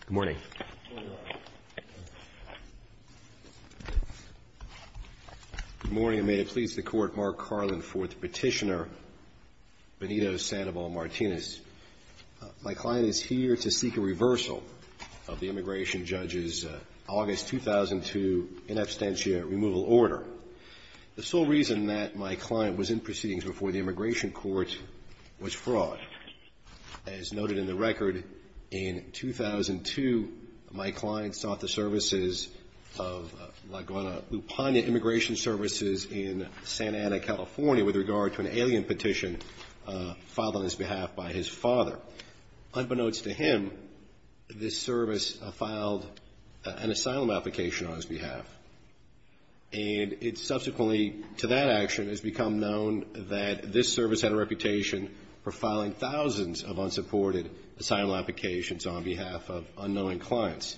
Good morning, and may it please the Court, Mark Carlin, Fourth Petitioner, Benito Sandoval Martinez. My client is here to seek a reversal of the immigration judge's August 2002 in absentia removal order. The sole reason that my client was in proceedings before the immigration court was fraud. As noted in the record, in 2002, my client sought the services of Laguna Lupana Immigration Services in Santa Ana, California with regard to an alien petition filed on his behalf by his father. Unbeknownst to him, this service filed an asylum application on his behalf. And it subsequently, to that action, has become known that this service had a reputation for filing thousands of unsupported asylum applications on behalf of unknowing clients.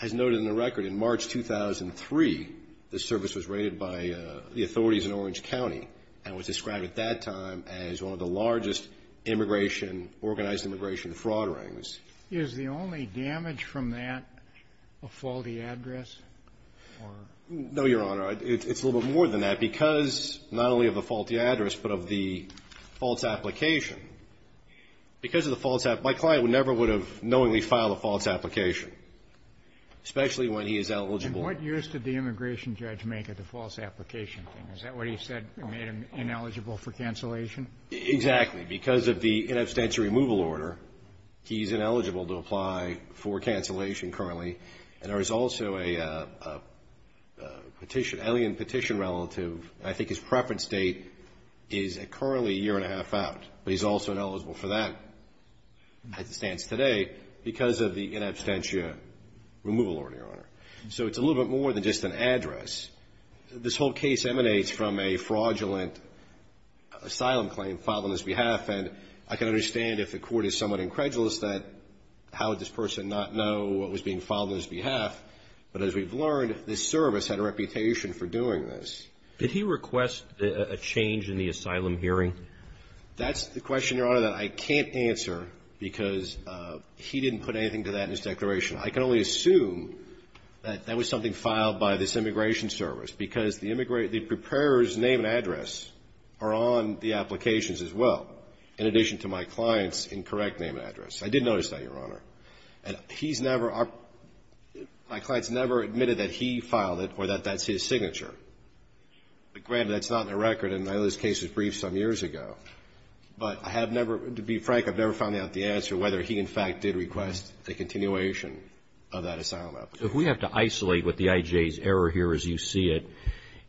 As noted in the record, in March 2003, this service was raided by the authorities in Orange County and was described at that time as one of the largest immigration, organized immigration fraud rings. Is the only damage from that a faulty address? No, Your Honor. It's a little bit more than that. Because not only of the faulty address, but of the false application. Because of the false application, my client never would have knowingly filed a false application, especially when he is eligible. And what use did the immigration judge make of the false application? Is that what he said made him ineligible for cancellation? Exactly. Because of the in absentia removal order, he's ineligible to apply for cancellation currently. And there is also a petition, alien petition relative. I think his preference date is currently a year and a half out. But he's also ineligible for that, as it stands today, because of the in absentia removal order, Your Honor. So it's a little bit more than just an address. This whole case emanates from a fraudulent asylum claim filed on his behalf. And I can understand if the court is somewhat incredulous that how would this person not know what was being filed on his behalf. But as we've learned, this service had a reputation for doing this. Did he request a change in the asylum hearing? That's the question, Your Honor, that I can't answer because he didn't put anything to that in his declaration. I can only assume that that was something filed by this immigration service, because the preparer's name and address are on the applications as well, in addition to my client's incorrect name and address. I did notice that, Your Honor. And he's never – my client's never admitted that he filed it or that that's his signature. But granted, that's not in the record, and I know this case was briefed some years ago. But I have never – to be frank, I've never found out the answer whether he, in fact, did request a continuation of that asylum application. If we have to isolate what the IJ's error here is, you see it,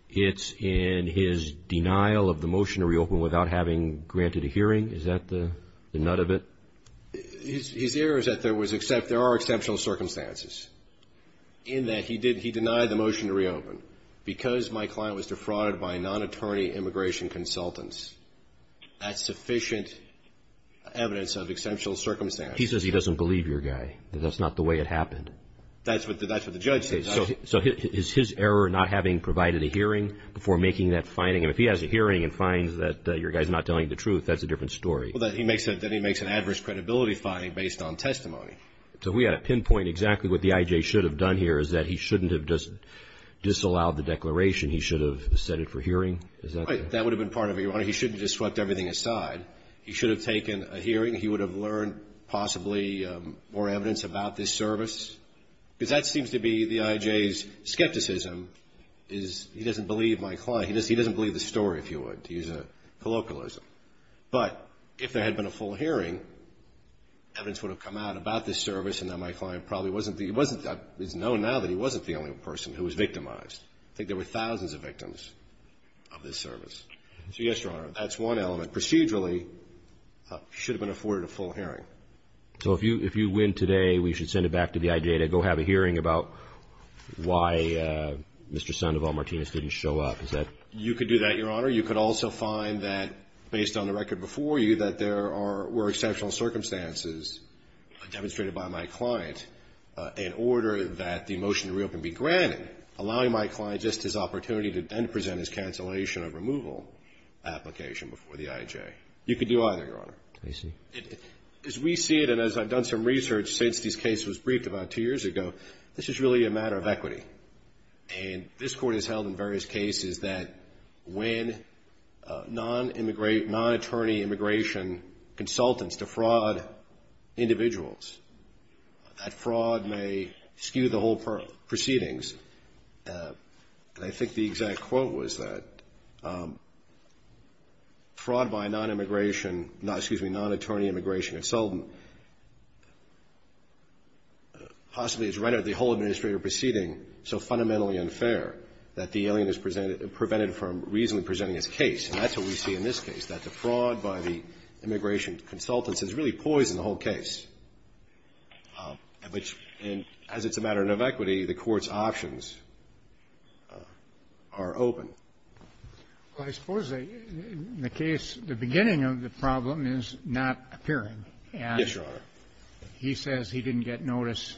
it's in his denial of the motion to reopen without having granted a hearing. Is that the nut of it? His error is that there was – there are exceptional circumstances in that he did – he denied the motion to reopen. Because my client was defrauded by non-attorney immigration consultants, that's sufficient evidence of exceptional circumstances. But he says he doesn't believe your guy, that that's not the way it happened. That's what the judge said. So is his error not having provided a hearing before making that finding? If he has a hearing and finds that your guy's not telling the truth, that's a different story. Well, then he makes an adverse credibility finding based on testimony. So we have to pinpoint exactly what the IJ should have done here, is that he shouldn't have just disallowed the declaration. He should have set it for hearing. Is that the – Right. That would have been part of it, Your Honor. He shouldn't have just swept everything aside. He should have taken a hearing. He would have learned possibly more evidence about this service. Because that seems to be the IJ's skepticism, is he doesn't believe my client. He doesn't believe the story, if you would, to use a colloquialism. But if there had been a full hearing, evidence would have come out about this service, and then my client probably wasn't the – he wasn't – it's known now that he wasn't the only person who was victimized. I think there were thousands of victims of this service. So, yes, Your Honor, that's one element. Procedurally, he should have been afforded a full hearing. So if you win today, we should send it back to the IJ to go have a hearing about why Mr. Sandoval-Martinez didn't show up. Is that – You could do that, Your Honor. You could also find that, based on the record before you, that there are – were exceptional circumstances demonstrated by my client in order that the motion to reopen be granted, allowing my client just his opportunity to then present his cancellation of removal application before the IJ. You could do either, Your Honor. I see. As we see it, and as I've done some research since this case was briefed about two years ago, this is really a matter of equity. And this Court has held in various cases that when non-immigrate – non-attorney immigration consultants defraud individuals, that fraud may skew the whole proceedings. And I think the exact quote was that fraud by non-immigration – excuse me, non-attorney immigration consultant possibly has rendered the whole administrative proceeding so fundamentally unfair that the alien is prevented from reasonably presenting his case. And that's what we see in this case, that the fraud by the immigration consultants has really poisoned the whole case, which – and as it's a matter of equity, the Court's options are open. Well, I suppose in the case – the beginning of the problem is not appearing. Yes, Your Honor. He says he didn't get notice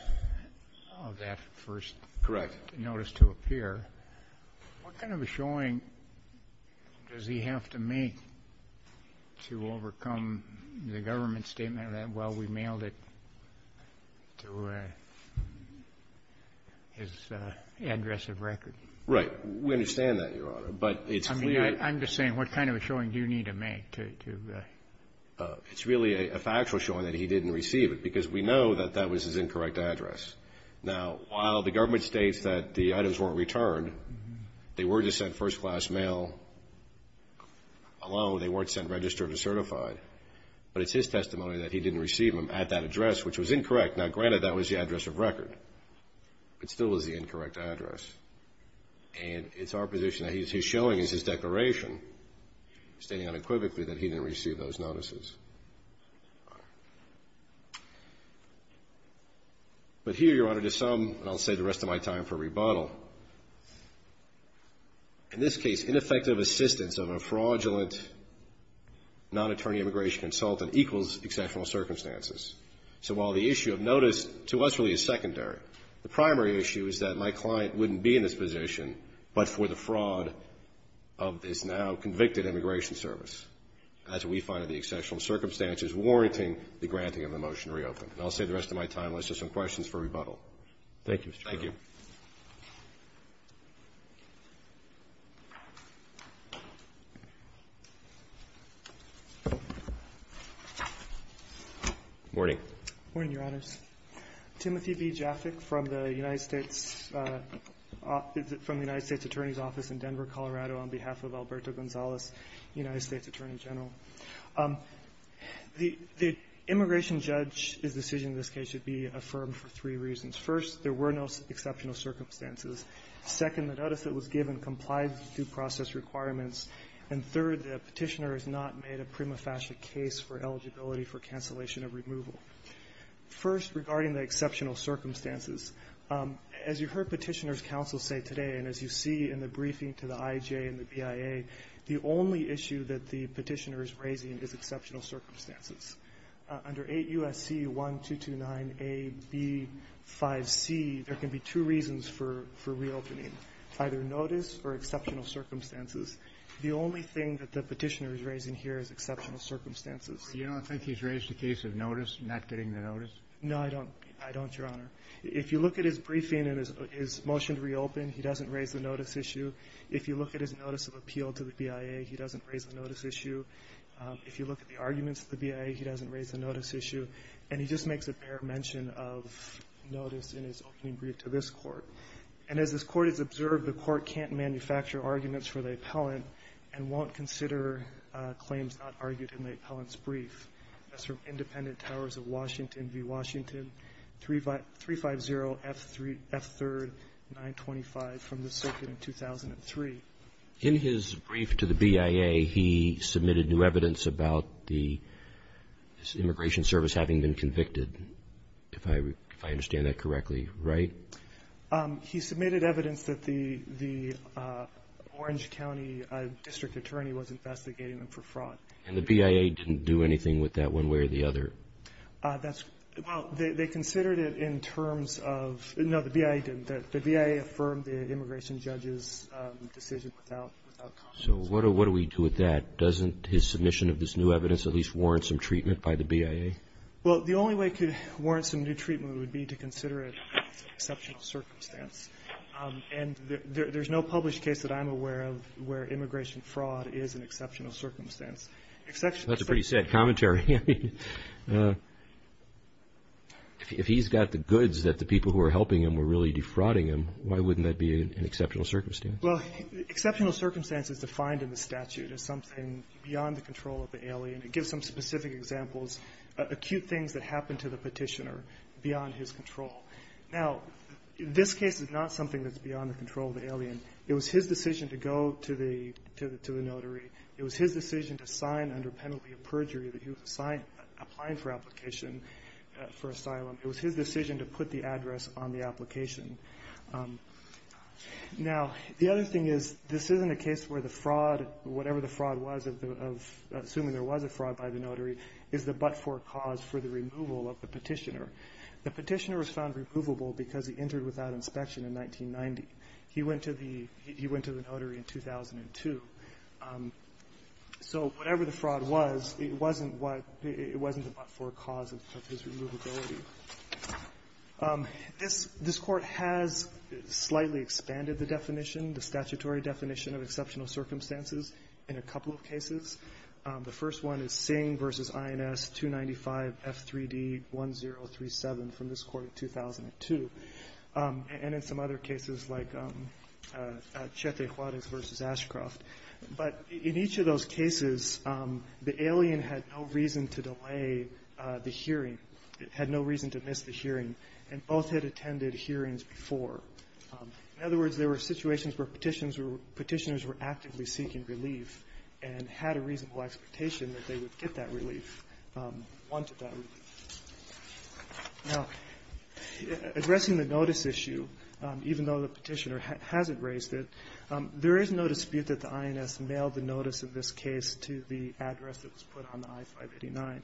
of that first – Correct. – notice to appear. What kind of a showing does he have to make to overcome the government statement that, well, we mailed it to his address of record? Right. We understand that, Your Honor. But it's clear – I mean, I'm just saying, what kind of a showing do you need to make to – It's really a factual showing that he didn't receive it, because we know that that was his incorrect address. Now, while the government states that the items weren't returned, they were just sent first-class mail alone. They weren't sent registered or certified. But it's his testimony that he didn't receive them at that address, which was incorrect. Now, granted, that was the address of record. It still is the incorrect address. And it's our position that his showing is his declaration, stating unequivocally that he didn't receive those notices. But here, Your Honor, to sum – and I'll save the rest of my time for rebuttal – in this case, ineffective assistance of a fraudulent non-attorney immigration consultant equals exceptional circumstances. So while the issue of notice to us really is secondary, the primary issue is that my client wouldn't be in this position but for the fraud of this now-convicted immigration service. And that's what we find are the exceptional circumstances warranting the granting of the motion to reopen. And I'll save the rest of my time. Let's do some questions for rebuttal. Thank you. Morning. Morning, Your Honors. Timothy B. Jaffick from the United States – from the United States Attorney's Office in Denver, Colorado, on behalf of Alberto Gonzalez, United States Attorney General. The immigration judge's decision in this case should be affirmed for three reasons. First, there were no exceptional circumstances. Second, the notice that was given complied with due process requirements. And third, the Petitioner has not made a prima facie case for eligibility for cancellation of removal. First, regarding the exceptional circumstances, as you heard Petitioner's counsel say today, and as you see in the briefing to the IJ and the BIA, the only issue that the Petitioner is raising is exceptional circumstances. Under 8 U.S.C. 1229A-B-5C, there can be two reasons for reopening, either notice or exceptional circumstances. The only thing that the Petitioner is raising here is exceptional circumstances. Do you not think he's raised the case of notice, not getting the notice? No, I don't. I don't, Your Honor. If you look at his briefing and his motion to reopen, he doesn't raise the notice issue. If you look at his notice of appeal to the BIA, he doesn't raise the notice issue. If you look at the arguments of the BIA, he doesn't raise the notice issue. And he just makes a bare mention of notice in his opening brief to this Court. And as this Court has observed, the Court can't manufacture arguments for the appellant and won't consider claims not argued in the appellant's brief. That's from Independent Towers of Washington v. Washington, 350F3-925 from the circuit in 2003. In his brief to the BIA, he submitted new evidence about the Immigration Service having been convicted, if I understand that correctly, right? He submitted evidence that the Orange County district attorney was investigating them for fraud. And the BIA didn't do anything with that one way or the other? That's well, they considered it in terms of, no, the BIA didn't. The BIA affirmed the immigration judge's decision without comment. So what do we do with that? Doesn't his submission of this new evidence at least warrant some treatment by the BIA? Well, the only way it could warrant some new treatment would be to consider it an exceptional circumstance. And there's no published case that I'm aware of where immigration fraud is an exceptional circumstance. That's a pretty sad commentary. If he's got the goods that the people who are helping him were really defrauding him, why wouldn't that be an exceptional circumstance? Well, exceptional circumstance is defined in the statute as something beyond the control of the alien. So, for example, in this particular case, I'm going to use two specific examples, acute things that happened to the petitioner beyond his control. Now, this case is not something that's beyond the control of the alien. It was his decision to go to the notary. It was his decision to sign under penalty of perjury that he was applying for application for asylum. It was his decision to put the address on the application. Now, the other thing is, this isn't a case where the fraud, whatever the fraud was of assuming there was a fraud by the notary, is the but-for cause for the removal of the petitioner. The petitioner was found removable because he entered without inspection in 1990. He went to the notary in 2002. So whatever the fraud was, it wasn't what the – it wasn't the but-for cause of his removability. This Court has slightly expanded the definition, the statutory definition of exceptional circumstances in a couple of cases. The first one is Singh v. INS 295 F3D 1037 from this Court in 2002, and in some other cases like Chete Juarez v. Ashcroft. But in each of those cases, the alien had no reason to delay the hearing, had no reason to miss the hearing, and both had attended hearings before. In other words, there were situations where petitioners were actively seeking relief and had a reasonable expectation that they would get that relief, wanted that relief. Now, addressing the notice issue, even though the petitioner hasn't raised it, there is no dispute that the INS mailed the notice of this case to the address that was put on the I-589.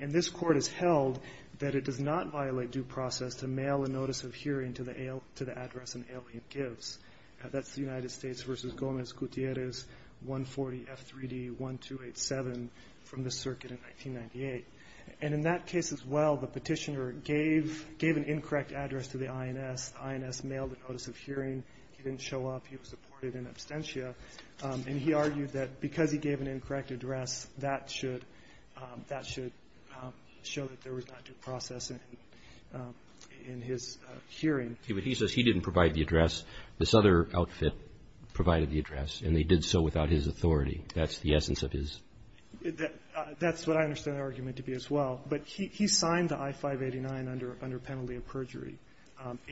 And this Court has held that it does not violate due process to mail a notice of hearing to the address an alien gives. That's the United States v. Gomez Gutierrez 140 F3D 1287 from the circuit in 1998. And in that case as well, the petitioner gave an incorrect address to the INS. The INS mailed a notice of hearing. He didn't show up. He was deported in absentia. And he argued that because he gave an incorrect address, that should show that there was not due process in his hearing. But he says he didn't provide the address. This other outfit provided the address, and they did so without his authority. That's the essence of his ---- That's what I understand the argument to be as well. But he signed the I-589 under penalty of perjury.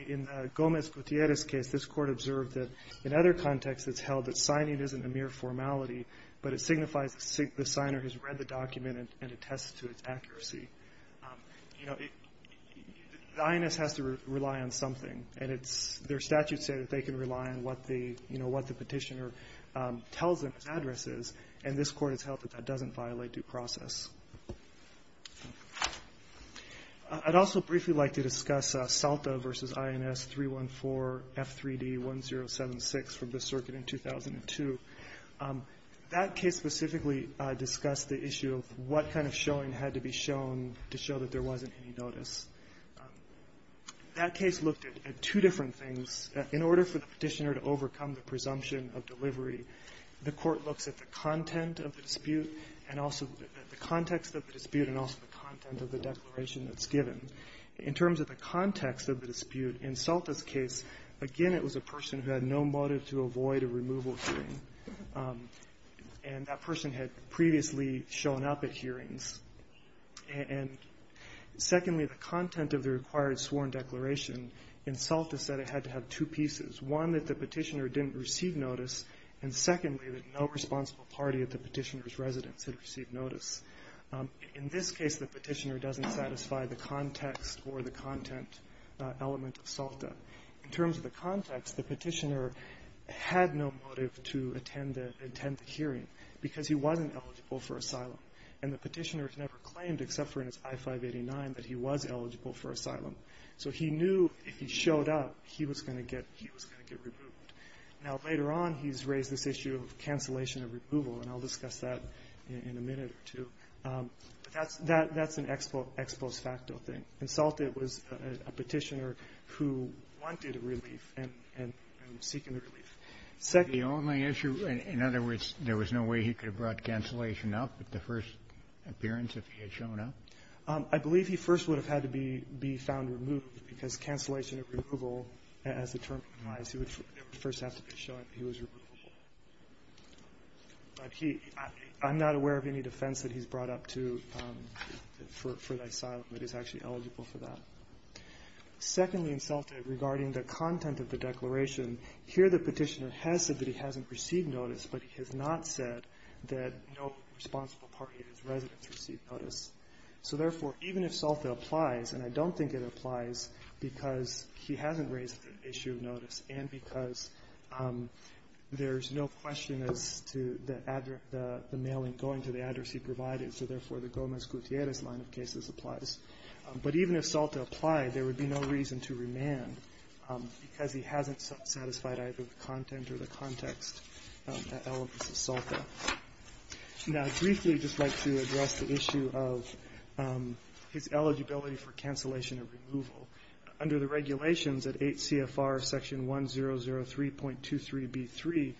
In Gomez Gutierrez's case, this Court observed that in other contexts it's held that signing isn't a mere formality, but it signifies the signer has read the document and attests to its accuracy. The INS has to rely on something. And their statutes say that they can rely on what the petitioner tells them his address is. And this Court has held that that doesn't violate due process. I'd also briefly like to discuss Salta v. INS 314-F3D-1076 from the circuit in 2002. That case specifically discussed the issue of what kind of showing had to be shown to show that there wasn't any notice. That case looked at two different things. In order for the petitioner to overcome the presumption of delivery, the Court looks at the content of the dispute and also the context of the dispute and also the content of the declaration that's given. In terms of the context of the dispute, in Salta's case, again, it was a person who had no motive to avoid a removal hearing. And that person had previously shown up at hearings. And, secondly, the content of the required sworn declaration in Salta said it had to have two pieces, one, that the petitioner didn't receive notice, and, secondly, that no responsible party at the petitioner's residence had received notice. In this case, the petitioner doesn't satisfy the context or the content element of Salta. In terms of the context, the petitioner had no motive to attend the hearing because he wasn't eligible for asylum. And the petitioner has never claimed, except for in his I-589, that he was eligible for asylum. So he knew if he showed up, he was going to get removed. Now, later on, he's raised this issue of cancellation of removal, and I'll discuss that in a minute or two. But that's an ex post facto thing. In Salta, it was a petitioner who wanted a relief and was seeking a relief. The only issue, in other words, there was no way he could have brought cancellation up at the first appearance if he had shown up? I believe he first would have had to be found removed because cancellation of removal, as the term implies, he would first have to be shown he was removable. But I'm not aware of any defense that he's brought up to for asylum that he's actually eligible for that. Secondly, in Salta, regarding the content of the declaration, here the petitioner has said that he hasn't received notice, but he has not said that no responsible party at his residence received notice. So, therefore, even if Salta applies, and I don't think it applies because he hasn't raised the issue of notice and because there's no question as to the mailing going to the address he provided, so, therefore, the Gomez-Gutierrez line of cases applies. But even if Salta applied, there would be no reason to remand because he hasn't satisfied either the content or the context elements of Salta. Now, briefly, I'd just like to address the issue of his eligibility for cancellation of removal. Under the regulations at 8 CFR section 1003.23B3, the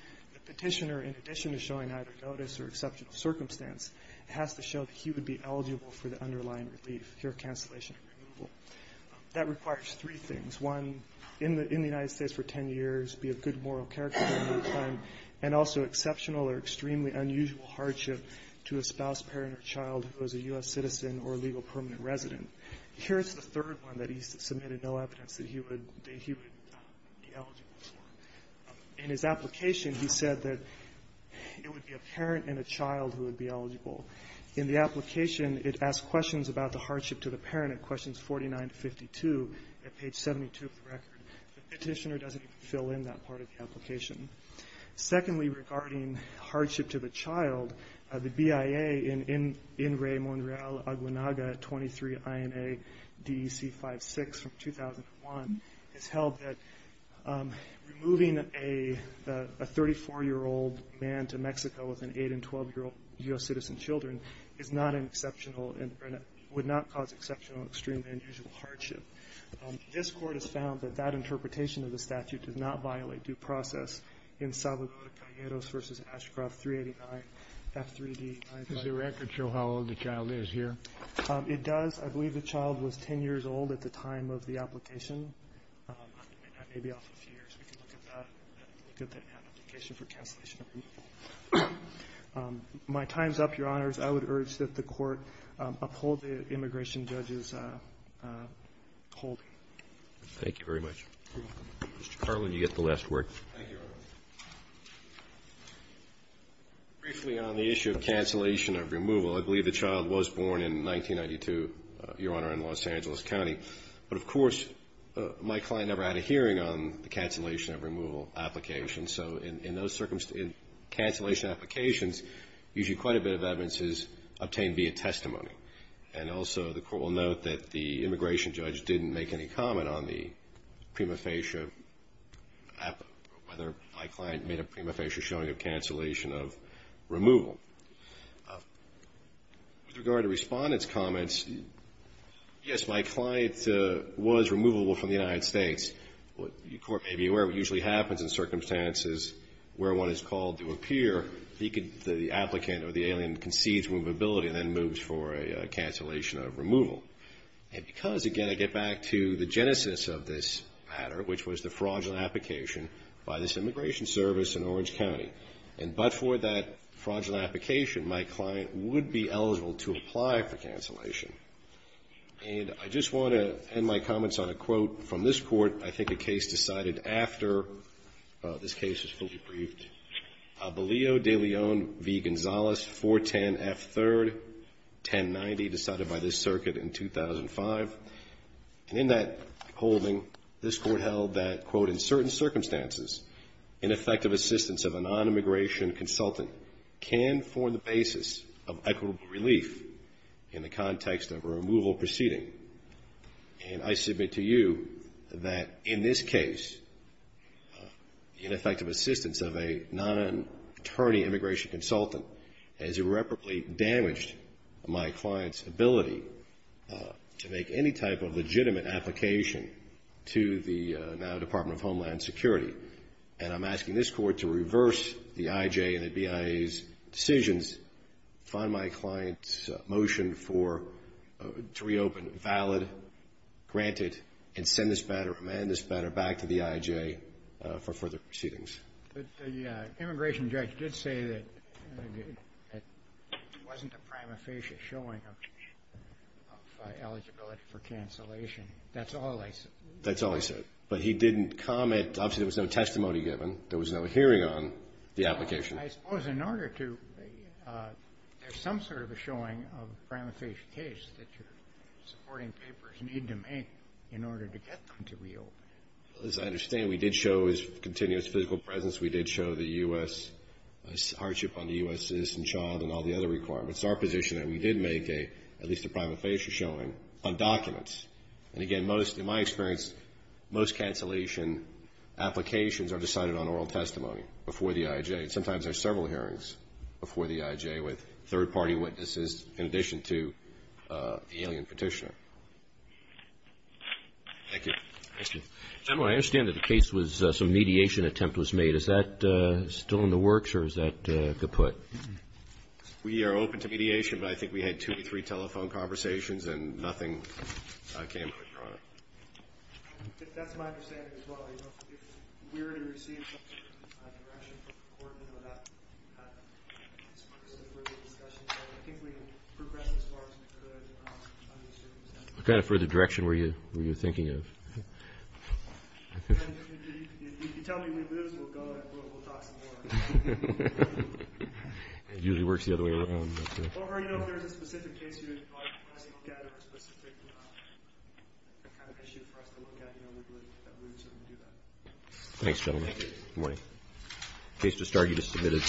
petitioner, in addition to showing either notice or exceptional circumstance, has to show that he would be eligible for the underlying relief, here cancellation of removal. That requires three things. One, in the United States for 10 years, be of good moral character, and also exceptional or extremely unusual hardship to a spouse, parent, or child who is a U.S. citizen or legal permanent resident. Here's the third one that he submitted no evidence that he would be eligible for. In his application, he said that it would be a parent and a child who would be eligible. In the application, it asks questions about the hardship to the parent at questions 49 to 52 at page 72 of the record. The petitioner doesn't even fill in that part of the application. Secondly, regarding hardship to the child, the BIA in In Re Monreal Aguanaga 23 INA DEC 56 from 2001 has held that removing a 34-year-old man to Mexico with an 8- and 12-year-old U.S. citizen children is not an exceptional and would not cause exceptional or extremely unusual hardship. This court has found that that interpretation of the statute does not violate due process in Salvador Gallegos v. Ashcroft 389 F3D. Does the record show how old the child is here? It does. I believe the child was 10 years old at the time of the application. That may be off a few years. We can look at that application for cancellation. My time is up, Your Honors. I would urge that the court uphold the immigration judge's holding. Thank you very much. You're welcome. Mr. McCrory. Thank you, Your Honor. Briefly on the issue of cancellation of removal, I believe the child was born in 1992, Your Honor, in Los Angeles County. But, of course, my client never had a hearing on the cancellation of removal application. So in those circumstances, cancellation applications, usually quite a bit of evidence is obtained via testimony. And also the court will note that the immigration judge didn't make any comment on the prima facie of whether my client made a prima facie showing of cancellation of removal. With regard to respondent's comments, yes, my client was removable from the United States. The court may be aware what usually happens in circumstances where one is called to appear, the applicant or the alien concedes movability and then moves for a cancellation of removal. And because, again, I get back to the genesis of this matter, which was the fraudulent application by this immigration service in Orange County. And but for that fraudulent application, my client would be eligible to apply for cancellation. And I just want to end my comments on a quote from this court. I think a case decided after this case was fully briefed. Balillo de Leon v. Gonzalez, 410F3rd, 1090, decided by this circuit in 2005. And in that holding, this court held that, quote, in certain circumstances, ineffective assistance of a nonimmigration consultant can form the basis of equitable relief in the context of a removal proceeding. And I submit to you that in this case, ineffective assistance of a nonimmigration consultant has irreparably damaged my client's ability to make any type of legitimate application to the now Department of Homeland Security. And I'm asking this Court to reverse the I.J. and the BIA's decisions, find my client's motion for to reopen valid, granted, and send this matter, amend this matter back to the I.J. for further proceedings. The immigration judge did say that it wasn't a prima facie showing of eligibility for cancellation. That's all I said. That's all he said. But he didn't comment. Obviously, there was no testimony given. There was no hearing on the application. I suppose in order to, there's some sort of a showing of a prima facie case that your supporting papers need to make in order to get them to reopen. As I understand, we did show his continuous physical presence. We did show the U.S. hardship on the U.S. citizen child and all the other requirements. It's our position that we did make a, at least a prima facie showing on documents. And again, most, in my experience, most cancellation applications are decided on oral testimony before the I.J. Sometimes there's several hearings before the I.J. with third-party witnesses in addition to the alien petitioner. Thank you. General, I understand that the case was, some mediation attempt was made. Is that still in the works, or is that kaput? We are open to mediation, but I think we had two to three telephone conversations and nothing came of it. That's my understanding as well. If we were to receive a correction from the court, we would not have this purpose of further discussion, so I think we can progress as far as we could. What kind of further direction were you thinking of? If you tell me we lose, we'll go and we'll talk some more. It usually works the other way around. Or, you know, if there's a specific case you'd like us to look at or a specific kind of issue for us to look at, you know, we would certainly do that. Thanks, gentlemen. Thank you. Good morning. The case was started as submitted.